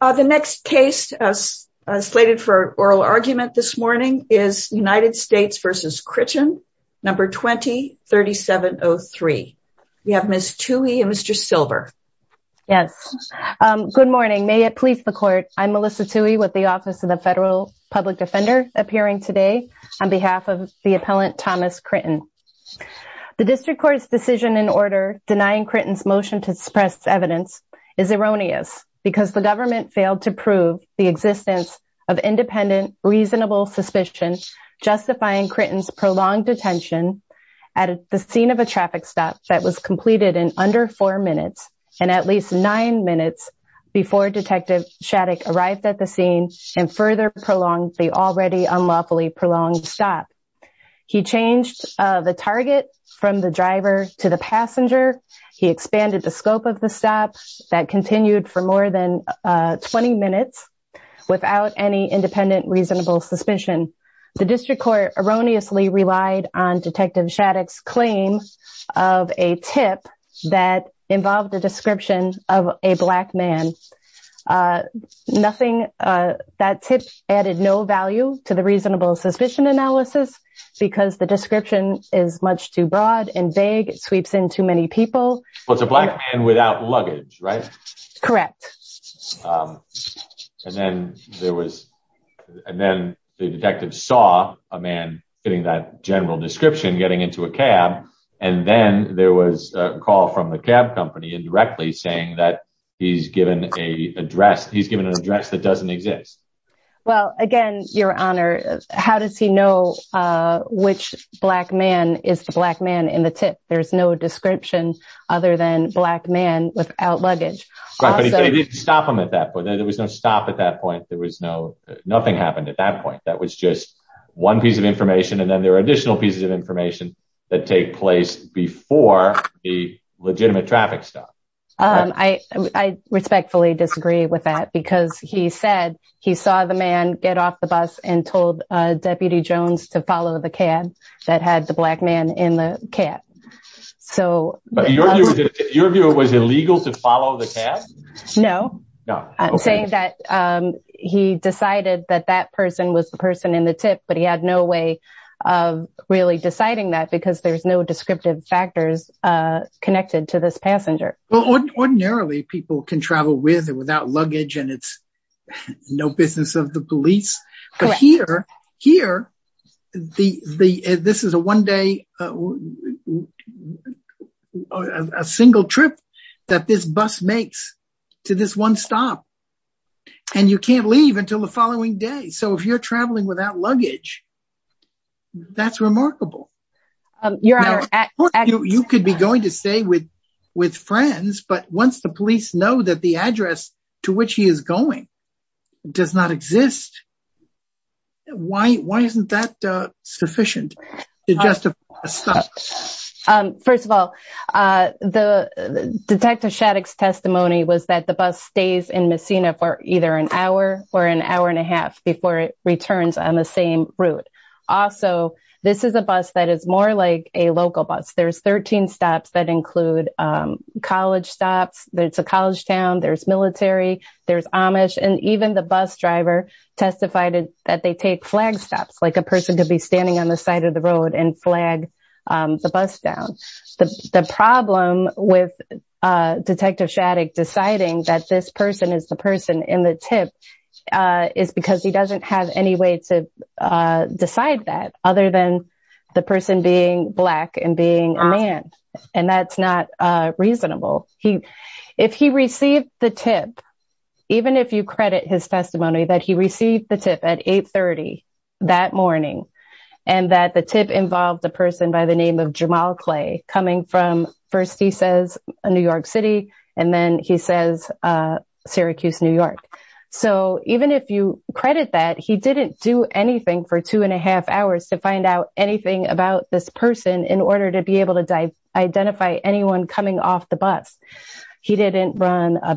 The next case slated for oral argument this morning is United States v. Critten No. 20-3703. We have Ms. Tuohy and Mr. Silver. Yes. Good morning. May it please the court, I'm Melissa Tuohy with the Office of the Federal Public Defender appearing today on behalf of the appellant Thomas Critten. The District Court's decision in order denying motion to suppress evidence is erroneous because the government failed to prove the existence of independent reasonable suspicion justifying Critten's prolonged detention at the scene of a traffic stop that was completed in under four minutes and at least nine minutes before Detective Shattuck arrived at the scene and further prolonged the already unlawfully prolonged stop. He changed the target from the driver to the passenger. He expanded the scope of the stop that continued for more than 20 minutes without any independent reasonable suspicion. The District Court erroneously relied on Detective Shattuck's claim of a tip that analysis because the description is much too broad and vague. It sweeps into many people. Well, it's a black man without luggage, right? Correct. And then there was and then the detective saw a man getting that general description getting into a cab and then there was a call from the cab company indirectly saying that he's given a address that doesn't exist. Well, again, your honor, how does he know which black man is the black man in the tip? There's no description other than black man without luggage. Right, but he didn't stop him at that point. There was no stop at that point. There was no nothing happened at that point. That was just one piece of information and then there are additional pieces of information that take place before the legitimate traffic stop. I respectfully disagree with that because he said he saw the man get off the bus and told Deputy Jones to follow the cab that had the black man in the cab. So your view was illegal to follow the cab? No, I'm saying that he decided that that person was the person in the tip, but he had no way of really deciding that because there's no descriptive factors connected to this passenger. Well, ordinarily people can travel with or without luggage and it's no business of the police. But here, this is a one day, a single trip that this bus makes to this one stop and you can't leave until the following day. So if you're traveling without luggage, that's remarkable. You could be going to stay with friends, but once the police know that the address to which he is going does not exist, why isn't that sufficient to justify a stop? First of all, the Detective Shattuck's testimony was that the bus stays in Messina for either an hour or an hour and a half before it returns on the same route. Also, this is a bus that is more like a local bus. There's 13 stops that include college stops, there's a college town, there's military, there's Amish, and even the bus driver testified that they take flag stops like a person could be standing on the side of the road and flag the bus down. The problem with Detective Shattuck deciding that this person is the person in the tip is because he doesn't have any way to decide that other than the person being black and being a man, and that's not reasonable. If he received the tip, even if you credit his testimony, that he received the tip at 8 30 that morning, and that the tip involved a person by the name of Jamal Clay coming from, first he says New York City, and then he says Syracuse, New York. So even if you credit that, he didn't do anything for two and a half hours to find out anything about this person in order to be able to identify anyone coming off the bus. He didn't run a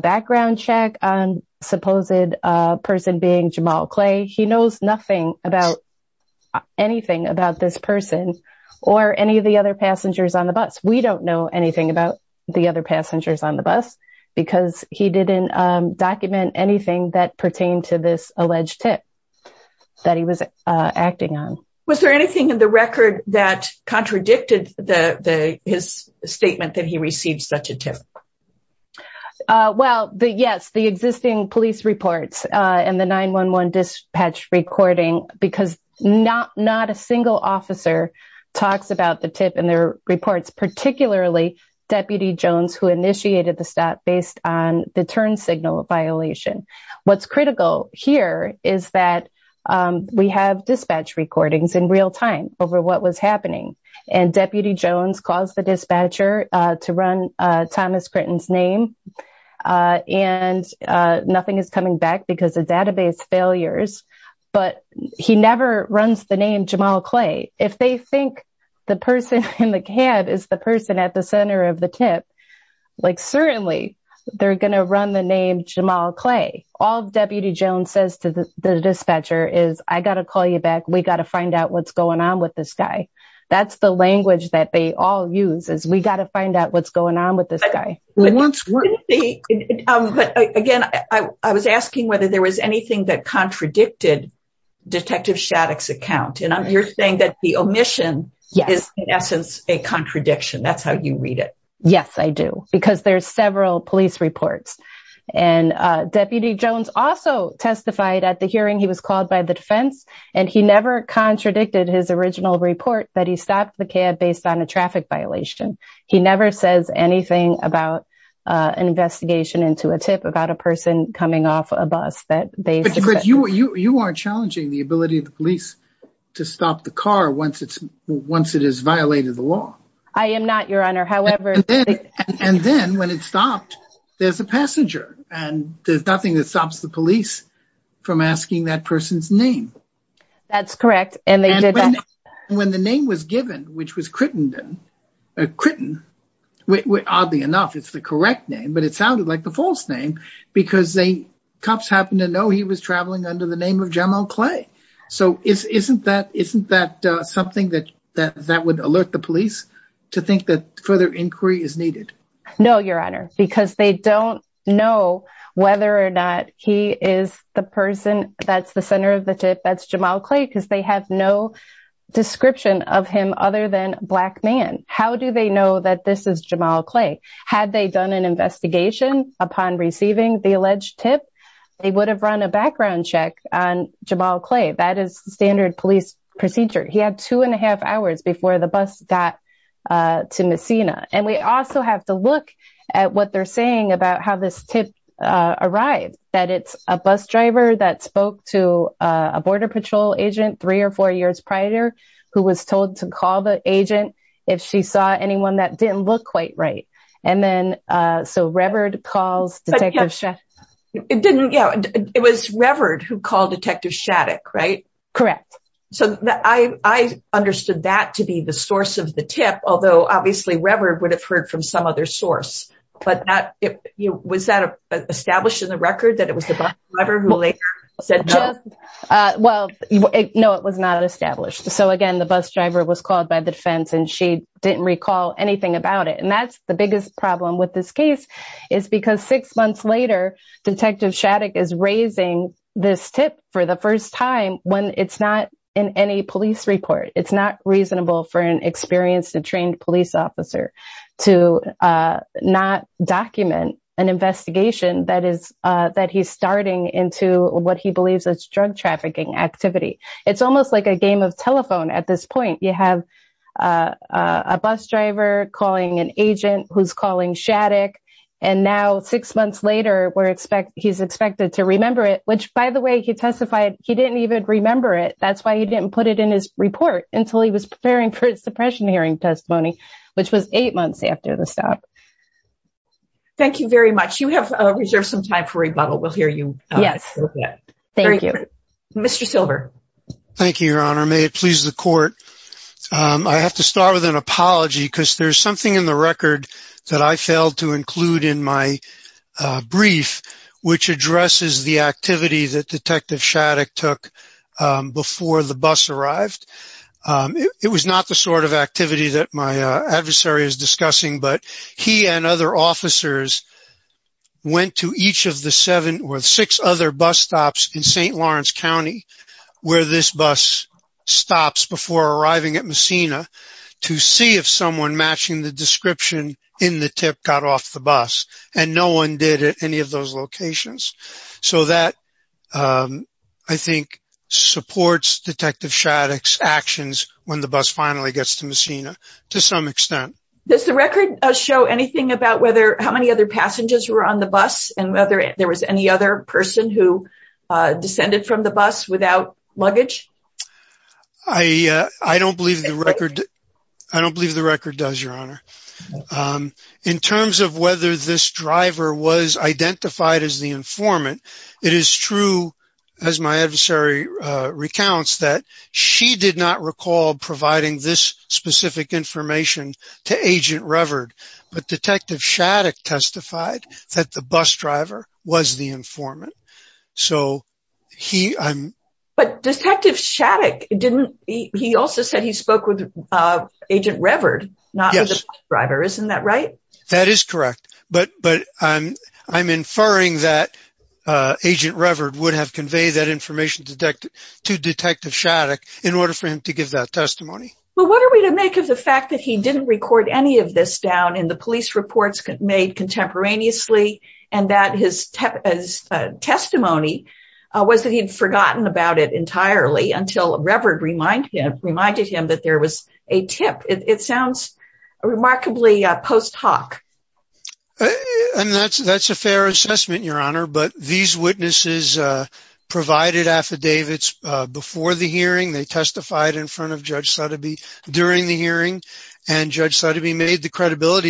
Jamal Clay. He knows nothing about anything about this person or any of the other passengers on the bus. We don't know anything about the other passengers on the bus because he didn't document anything that pertained to this alleged tip that he was acting on. Was there anything in the record that contradicted his statement that he received such a tip? Well, yes, the existing police reports and the 911 dispatch recording, because not a single officer talks about the tip in their reports, particularly Deputy Jones, who initiated the stop based on the turn signal violation. What's critical here is that we have dispatch recordings in real time over what was happening, and Deputy Jones calls the dispatcher to run Thomas Critton's name, and nothing is coming back because of database failures, but he never runs the name Jamal Clay. If they think the person in the cab is the person at the center of the tip, certainly they're going to run the name Jamal Clay. All Deputy Jones says to the dispatcher is, I got to call you back. We got to find out what's going on with this guy. That's the language that they all use is we got to find out what's going on with this guy. But again, I was asking whether there was anything that contradicted Detective Shattuck's account, and you're saying that the omission is in essence a contradiction. That's how you read it. Yes, I do, because there's several police reports, and Deputy Jones also testified at the hearing. He was called by the defense, and he never contradicted his original report that he stopped the cab based on a traffic violation. He never says anything about an investigation into a tip about a person coming off a bus. But you aren't challenging the ability of the police to stop the car once it is violated the law. I am not, Your Honor. And then when it stopped, there's a passenger, and there's nothing that the name was given, which was Crittenden, or Critten. Oddly enough, it's the correct name, but it sounded like the false name, because the cops happen to know he was traveling under the name of Jamal Clay. So isn't that something that would alert the police to think that further inquiry is needed? No, Your Honor, because they don't know whether or not he is the person that's the center of the tip, that's Jamal Clay, because they have no description of him other than black man. How do they know that this is Jamal Clay? Had they done an investigation upon receiving the alleged tip, they would have run a background check on Jamal Clay. That is standard police procedure. He had two and a half hours before the bus got to Messina. And we also have to look at what they're saying about how this tip arrived, that it's a bus driver that spoke to a border patrol agent three or four years prior, who was told to call the agent if she saw anyone that didn't look quite right. And then, so Reverd calls Detective Shattuck. It was Reverd who called Detective Shattuck, right? Correct. So I understood that to be the source of the tip, although obviously Reverd would have heard from some other source, but was that established in the record that it was the bus driver who later said no? Well, no, it was not established. So again, the bus driver was called by the defense and she didn't recall anything about it. And that's the biggest problem with this case is because six months later, Detective Shattuck is raising this tip for the first time when it's not in any police report. It's not reasonable for an experienced and trained police officer to not document an investigation that he's starting into what he believes is drug trafficking activity. It's almost like a game of telephone at this point. You have a bus driver calling an agent who's calling Shattuck. And now six months later, he's expected to remember it, which by the way, he testified he didn't even remember it. That's why he didn't put it in his testimony, which was eight months after the stop. Thank you very much. You have reserved some time for rebuttal. We'll hear you. Yes. Thank you, Mr. Silver. Thank you, Your Honor. May it please the court. I have to start with an apology because there's something in the record that I failed to include in my brief, which addresses the activity that Detective Shattuck took before the bus arrived. It was not the sort of activity that my adversary is discussing, but he and other officers went to each of the seven or six other bus stops in St. Lawrence County, where this bus stops before arriving at Messina to see if someone matching the description in the tip got off the bus. And no one did at any of those locations. So that, I think, supports Detective Shattuck's actions when the bus finally gets to Messina to some extent. Does the record show anything about whether how many other passengers were on the bus and whether there was any other person who descended from the bus without luggage? I don't believe the record does, Your Honor. In terms of whether this driver was identified as the informant, it is true, as my adversary recounts, that she did not recall providing this specific information to Agent Reverd. But Detective Shattuck testified that the bus driver was the informant. But Detective Shattuck, he also said he spoke with Agent Reverd, not the bus driver. Isn't that right? That is correct. But I'm inferring that Agent Reverd would have conveyed that information to Detective Shattuck in order for him to give that testimony. Well, what are we to make of the fact that he didn't record any of this down in the police reports made contemporaneously, and that his testimony was that he'd forgotten about it entirely until Reverd reminded him that there was a tip? It sounds remarkably post hoc. And that's a fair assessment, Your Honor. But these witnesses provided affidavits before the hearing. They testified in front of Judge Sotheby during the hearing. And Judge Sotheby made the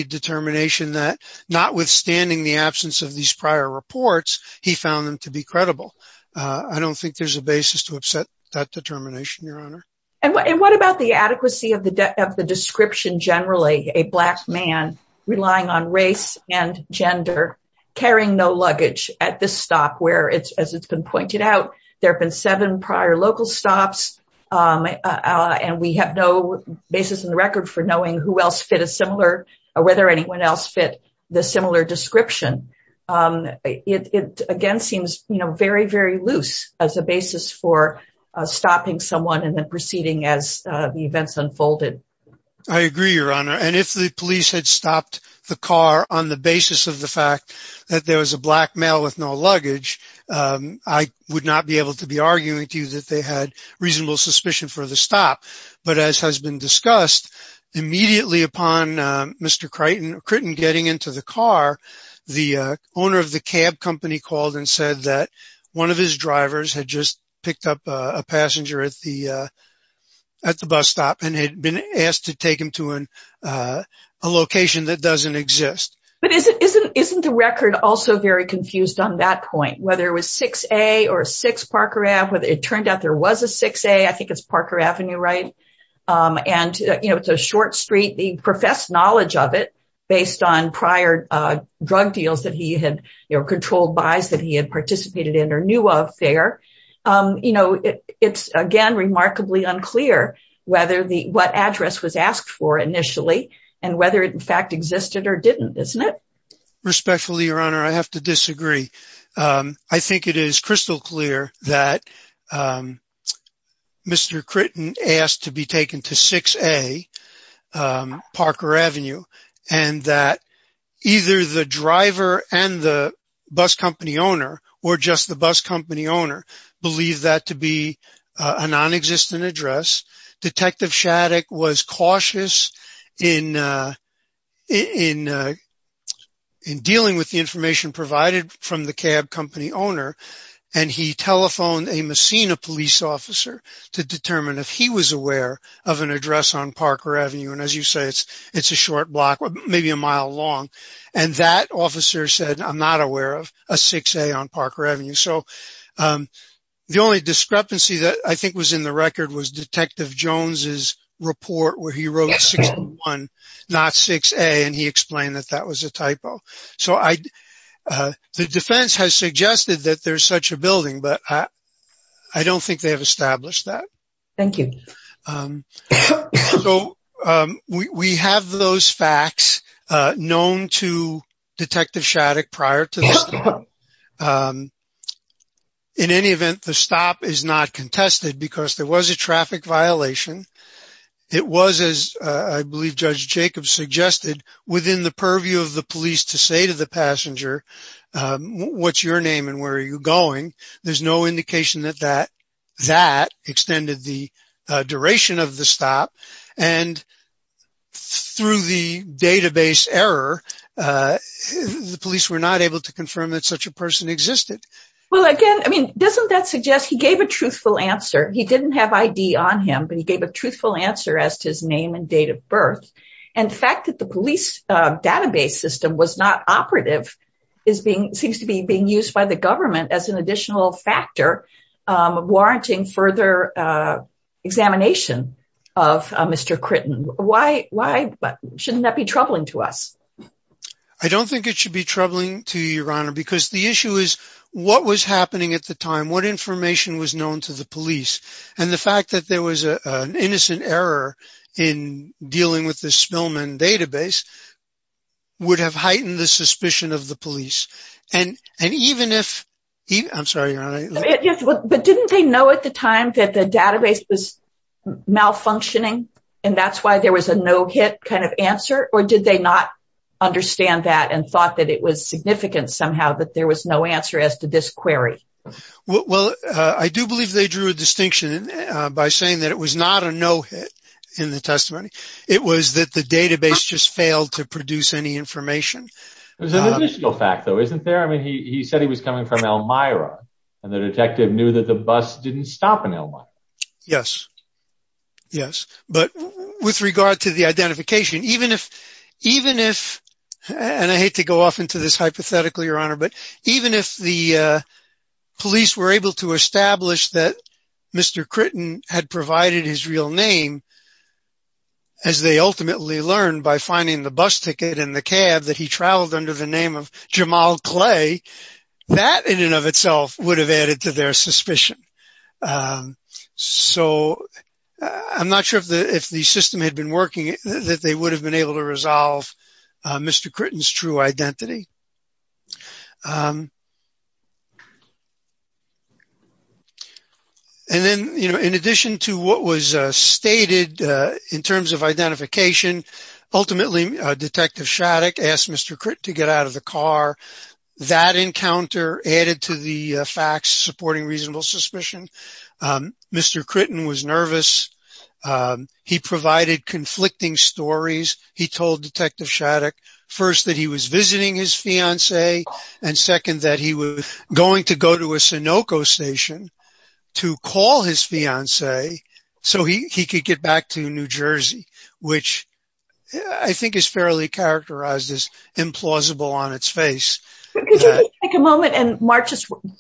determination that, notwithstanding the absence of these prior reports, he found them to be credible. I don't think there's a basis to upset that determination, Your Honor. And what about the adequacy of the description, generally, a black man relying on race and gender, carrying no luggage at this stop, where, as it's been pointed out, there have been seven prior local stops, and we have no basis in the record for knowing who else fit a similar or whether anyone else fit the similar description. It, again, seems very, very loose as a basis for stopping someone and then proceeding as the events unfolded. I agree, Your Honor. And if the police had stopped the car on the basis of the fact that there was a black male with no luggage, I would not be able to be arguing to you that they had reasonable suspicion for the stop. But as has been discussed, immediately upon Mr. Critton getting into the car, the owner of the cab company called and said that one of his drivers had just picked up a passenger at the bus stop and had been asked to take him to a location that doesn't exist. But isn't the record also very it turned out there was a 6A, I think it's Parker Avenue, right? And, you know, it's a short street. He professed knowledge of it based on prior drug deals that he had, you know, controlled buys that he had participated in or knew of there. You know, it's, again, remarkably unclear whether the what address was asked for initially and whether it in fact existed or didn't, isn't it? Respectfully, Your Honor, I have to disagree. I think it is crystal clear that Mr. Critton asked to be taken to 6A, Parker Avenue, and that either the driver and the bus company owner or just the bus company owner believe that to be a non-existent address. Detective Shattuck was cautious in dealing with the information provided from the cab company owner, and he telephoned a Messina police officer to determine if he was aware of an address on Parker Avenue. And as you say, it's a short block, maybe a mile long. And that officer said, I'm not aware of a 6A on Parker Avenue. So the only discrepancy that I see is in Detective Jones's report where he wrote 61, not 6A, and he explained that that was a typo. So the defense has suggested that there's such a building, but I don't think they have established that. Thank you. So we have those facts known to Detective Shattuck prior to the stop. In any event, the stop is not contested because there was a traffic violation. It was, as I believe Judge Jacobs suggested, within the purview of the police to say to the passenger, what's your name and where are you going? There's no indication that that extended the duration of the stop. And through the database error, the police were not able to confirm that such a person existed. Well, again, I mean, doesn't that suggest he gave a truthful answer? He didn't have ID on him, but he gave a truthful answer as to his name and date of birth. And the fact that the police database system was not operative seems to be being used by the government as an additional factor warranting further examination of Mr. Critton. Why shouldn't that be troubling to us? I don't think it should be troubling to you, Your Honor, because the issue is what was happening at the time, what information was known to the police. And the fact that there was an innocent error in dealing with this Spillman database would have heightened the suspicion of the police. And even if, I'm sorry, Your Honor. But didn't they know at the time that the database was malfunctioning and that's why was a no-hit kind of answer? Or did they not understand that and thought that it was significant somehow that there was no answer as to this query? Well, I do believe they drew a distinction by saying that it was not a no-hit in the testimony. It was that the database just failed to produce any information. There's an additional fact though, isn't there? I mean, he said he was coming from Elmira and the detective knew that the bus didn't stop in Elmira. Yes. Yes. But with regard to the identification, even if, even if, and I hate to go off into this hypothetically, Your Honor, but even if the police were able to establish that Mr. Critton had provided his real name, as they ultimately learned by finding the bus ticket and the cab that he traveled under the bus, so I'm not sure if the, if the system had been working, that they would have been able to resolve Mr. Critton's true identity. And then, you know, in addition to what was stated in terms of identification, ultimately, Detective Shattuck asked Mr. Critton to get out of the car. That encounter added to the facts supporting reasonable suspicion. Mr. Critton was nervous. He provided conflicting stories. He told Detective Shattuck, first, that he was visiting his fiance, and second, that he was going to go to a Sunoco station to call his fiance, so he could get back to New Jersey, which I think is fairly characterized as plausible on its face. Could you take a moment and march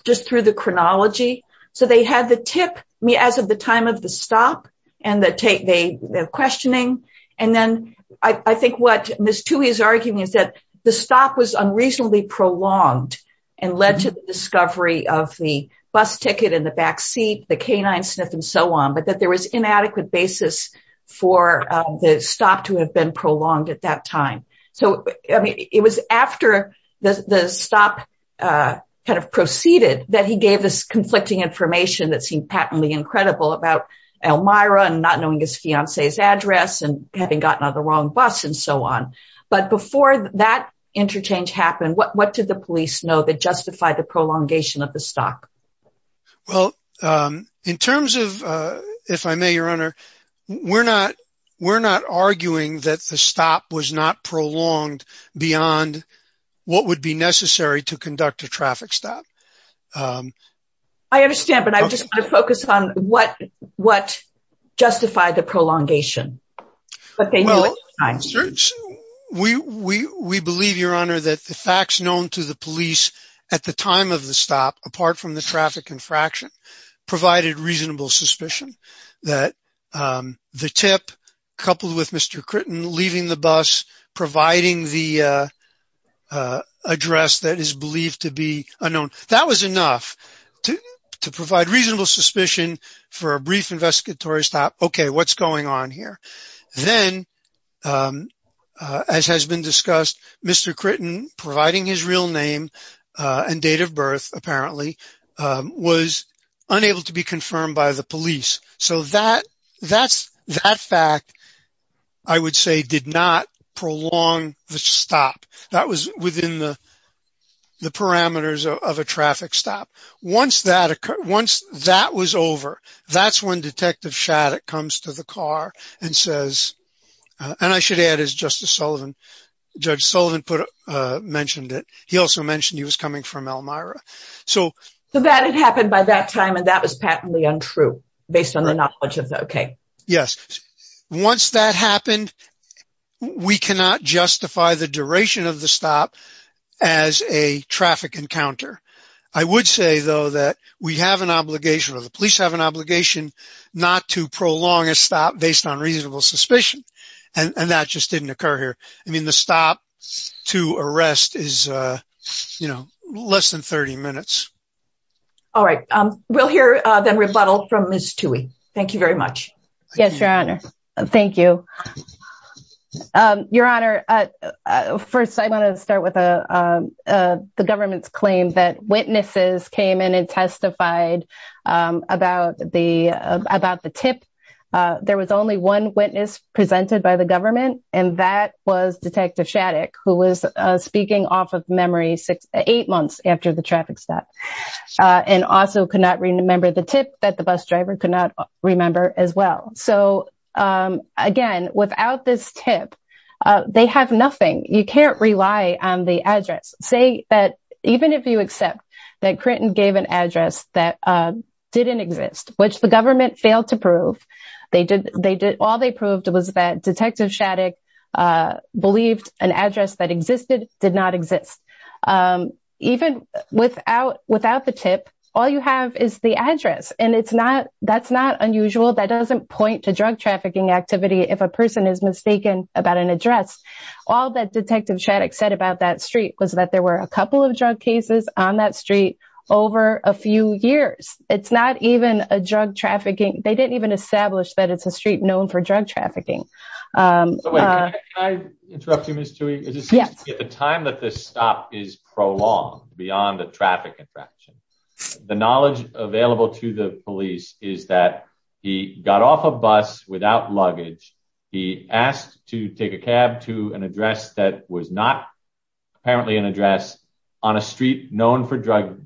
just through the chronology? So they had the tip, as of the time of the stop, and the questioning, and then I think what Ms. Toohey is arguing is that the stop was unreasonably prolonged and led to the discovery of the bus ticket and the backseat, the canine sniff, and so on, but that there was inadequate basis for the stop to have been prolonged at that time. So, I mean, it was after the stop kind of proceeded that he gave this conflicting information that seemed patently incredible about Elmira and not knowing his fiance's address and having gotten on the wrong bus and so on, but before that interchange happened, what did the police know that justified the prolongation of the stop? Well, in terms of, if I may, Your Honor, we're not arguing that the stop was not prolonged beyond what would be necessary to conduct a traffic stop. I understand, but I just want to focus on what justified the prolongation. Well, we believe, Your Honor, that the facts known to the police at the time of the stop, apart from the traffic infraction, provided reasonable suspicion that the tip coupled with Mr. Critton leaving the bus, providing the address that is believed to be unknown, that was enough to provide reasonable suspicion for a brief investigatory stop. Okay, what's going on here? Then, as has been discussed, Mr. Critton providing his real name and date of birth, apparently, was unable to be confirmed by the police. So that fact, I would say, did not prolong the stop. That was within the parameters of a traffic stop. Once that was over, that's when Detective Shattuck comes to the car and says, and I should add, as Justice Sullivan, Judge Sullivan mentioned it, he also mentioned he was coming from Elmira. So that had happened by that time, and that was patently untrue, based on the knowledge of that. Yes. Once that happened, we cannot justify the duration of the stop as a traffic encounter. I would say, though, that we have an obligation, or the police have an obligation, not to prolong a stop based on reasonable suspicion. And that just didn't occur here. I mean, the stop to arrest is, you know, less than 30 minutes. All right. We'll hear the rebuttal from Ms. Tuohy. Thank you very much. Yes, Your Honor. Thank you. Your Honor, first, I want to start with the government's claim that about the tip, there was only one witness presented by the government, and that was Detective Shattuck, who was speaking off of memory eight months after the traffic stop, and also could not remember the tip that the bus driver could not remember as well. So, again, without this tip, they have nothing. You can't rely on the address. Say that, Clinton gave an address that didn't exist, which the government failed to prove. All they proved was that Detective Shattuck believed an address that existed did not exist. Even without the tip, all you have is the address, and that's not unusual. That doesn't point to drug trafficking activity if a person is mistaken about an address. All that Detective on that street over a few years. It's not even a drug trafficking. They didn't even establish that it's a street known for drug trafficking. Can I interrupt you, Ms. Tuohy? Yes. At the time that this stop is prolonged beyond the traffic infraction, the knowledge available to the police is that he got off a bus without luggage. He asked to take a cab to an address that was not apparently an address on a street known for drug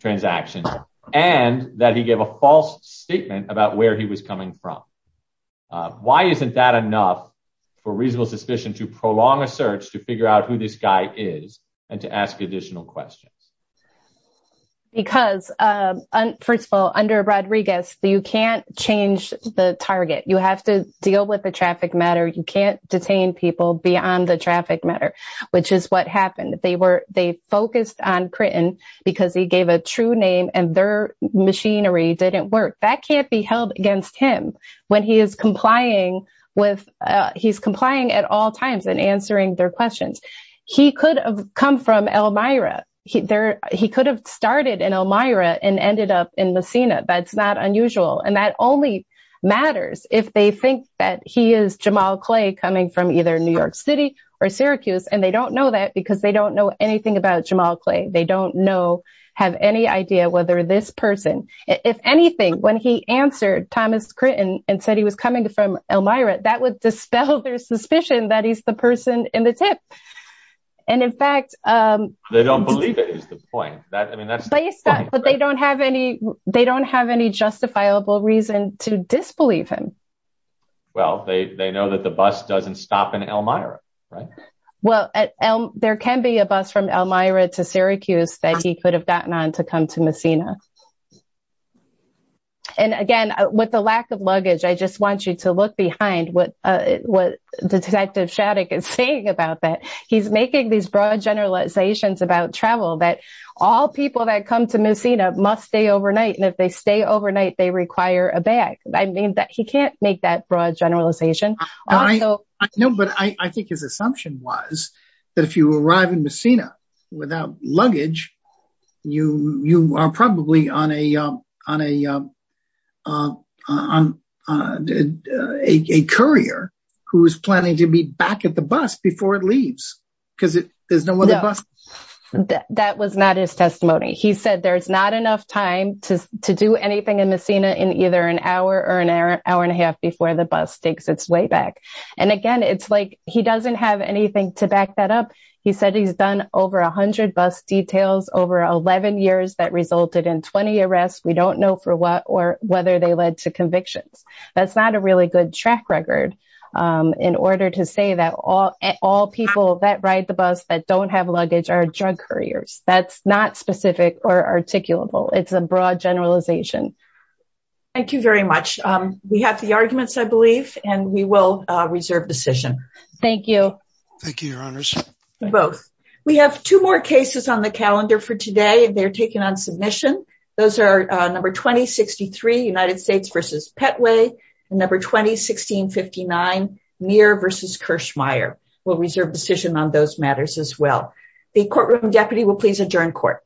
transactions, and that he gave a false statement about where he was coming from. Why isn't that enough for reasonable suspicion to prolong a search to figure out who this guy is and to ask additional questions? Because, first of all, under Rodriguez, you can't change the target. You have to deal with traffic matter. You can't detain people beyond the traffic matter, which is what happened. They focused on Critton because he gave a true name and their machinery didn't work. That can't be held against him when he is complying at all times and answering their questions. He could have come from Elmira. He could have started in Elmira and ended up in Messina. That's not unusual, and that only matters if they think that he is Jamal Clay coming from either New York City or Syracuse, and they don't know that because they don't know anything about Jamal Clay. They don't have any idea whether this person, if anything, when he answered Thomas Critton and said he was coming from Elmira, that would dispel their suspicion that he's the person in the tip. They don't have any justifiable reason to disbelieve him. Well, they know that the bus doesn't stop in Elmira, right? Well, there can be a bus from Elmira to Syracuse that he could have gotten on to come to Messina. And again, with the lack of luggage, I just want you to look behind what Detective Shattuck is saying about that. He's making these broad generalizations about travel that all people that come to Messina must stay overnight, and if they stay overnight, they require a bag. I mean, he can't make that broad generalization. No, but I think his assumption was that if you arrive in Messina without luggage, you are probably on a courier who is planning to be back at the bus before it leaves, because there's no other bus. That was not his testimony. He said there's not enough time to do anything in Messina in either an hour or an hour and a half before the bus takes its way back. And again, it's like he doesn't have over 11 years that resulted in 20 arrests. We don't know for what or whether they led to convictions. That's not a really good track record in order to say that all people that ride the bus that don't have luggage are drug couriers. That's not specific or articulable. It's a broad generalization. Thank you very much. We have the arguments, I believe, and we will reserve decision. Thank you. Thank you, Your Honors. Both. We have two more cases on the calendar for today, and they're taking on submission. Those are number 2063, United States v. Petway, and number 201659, Muir v. Kirschmeier. We'll reserve decision on those matters as well. The courtroom deputy will please adjourn court.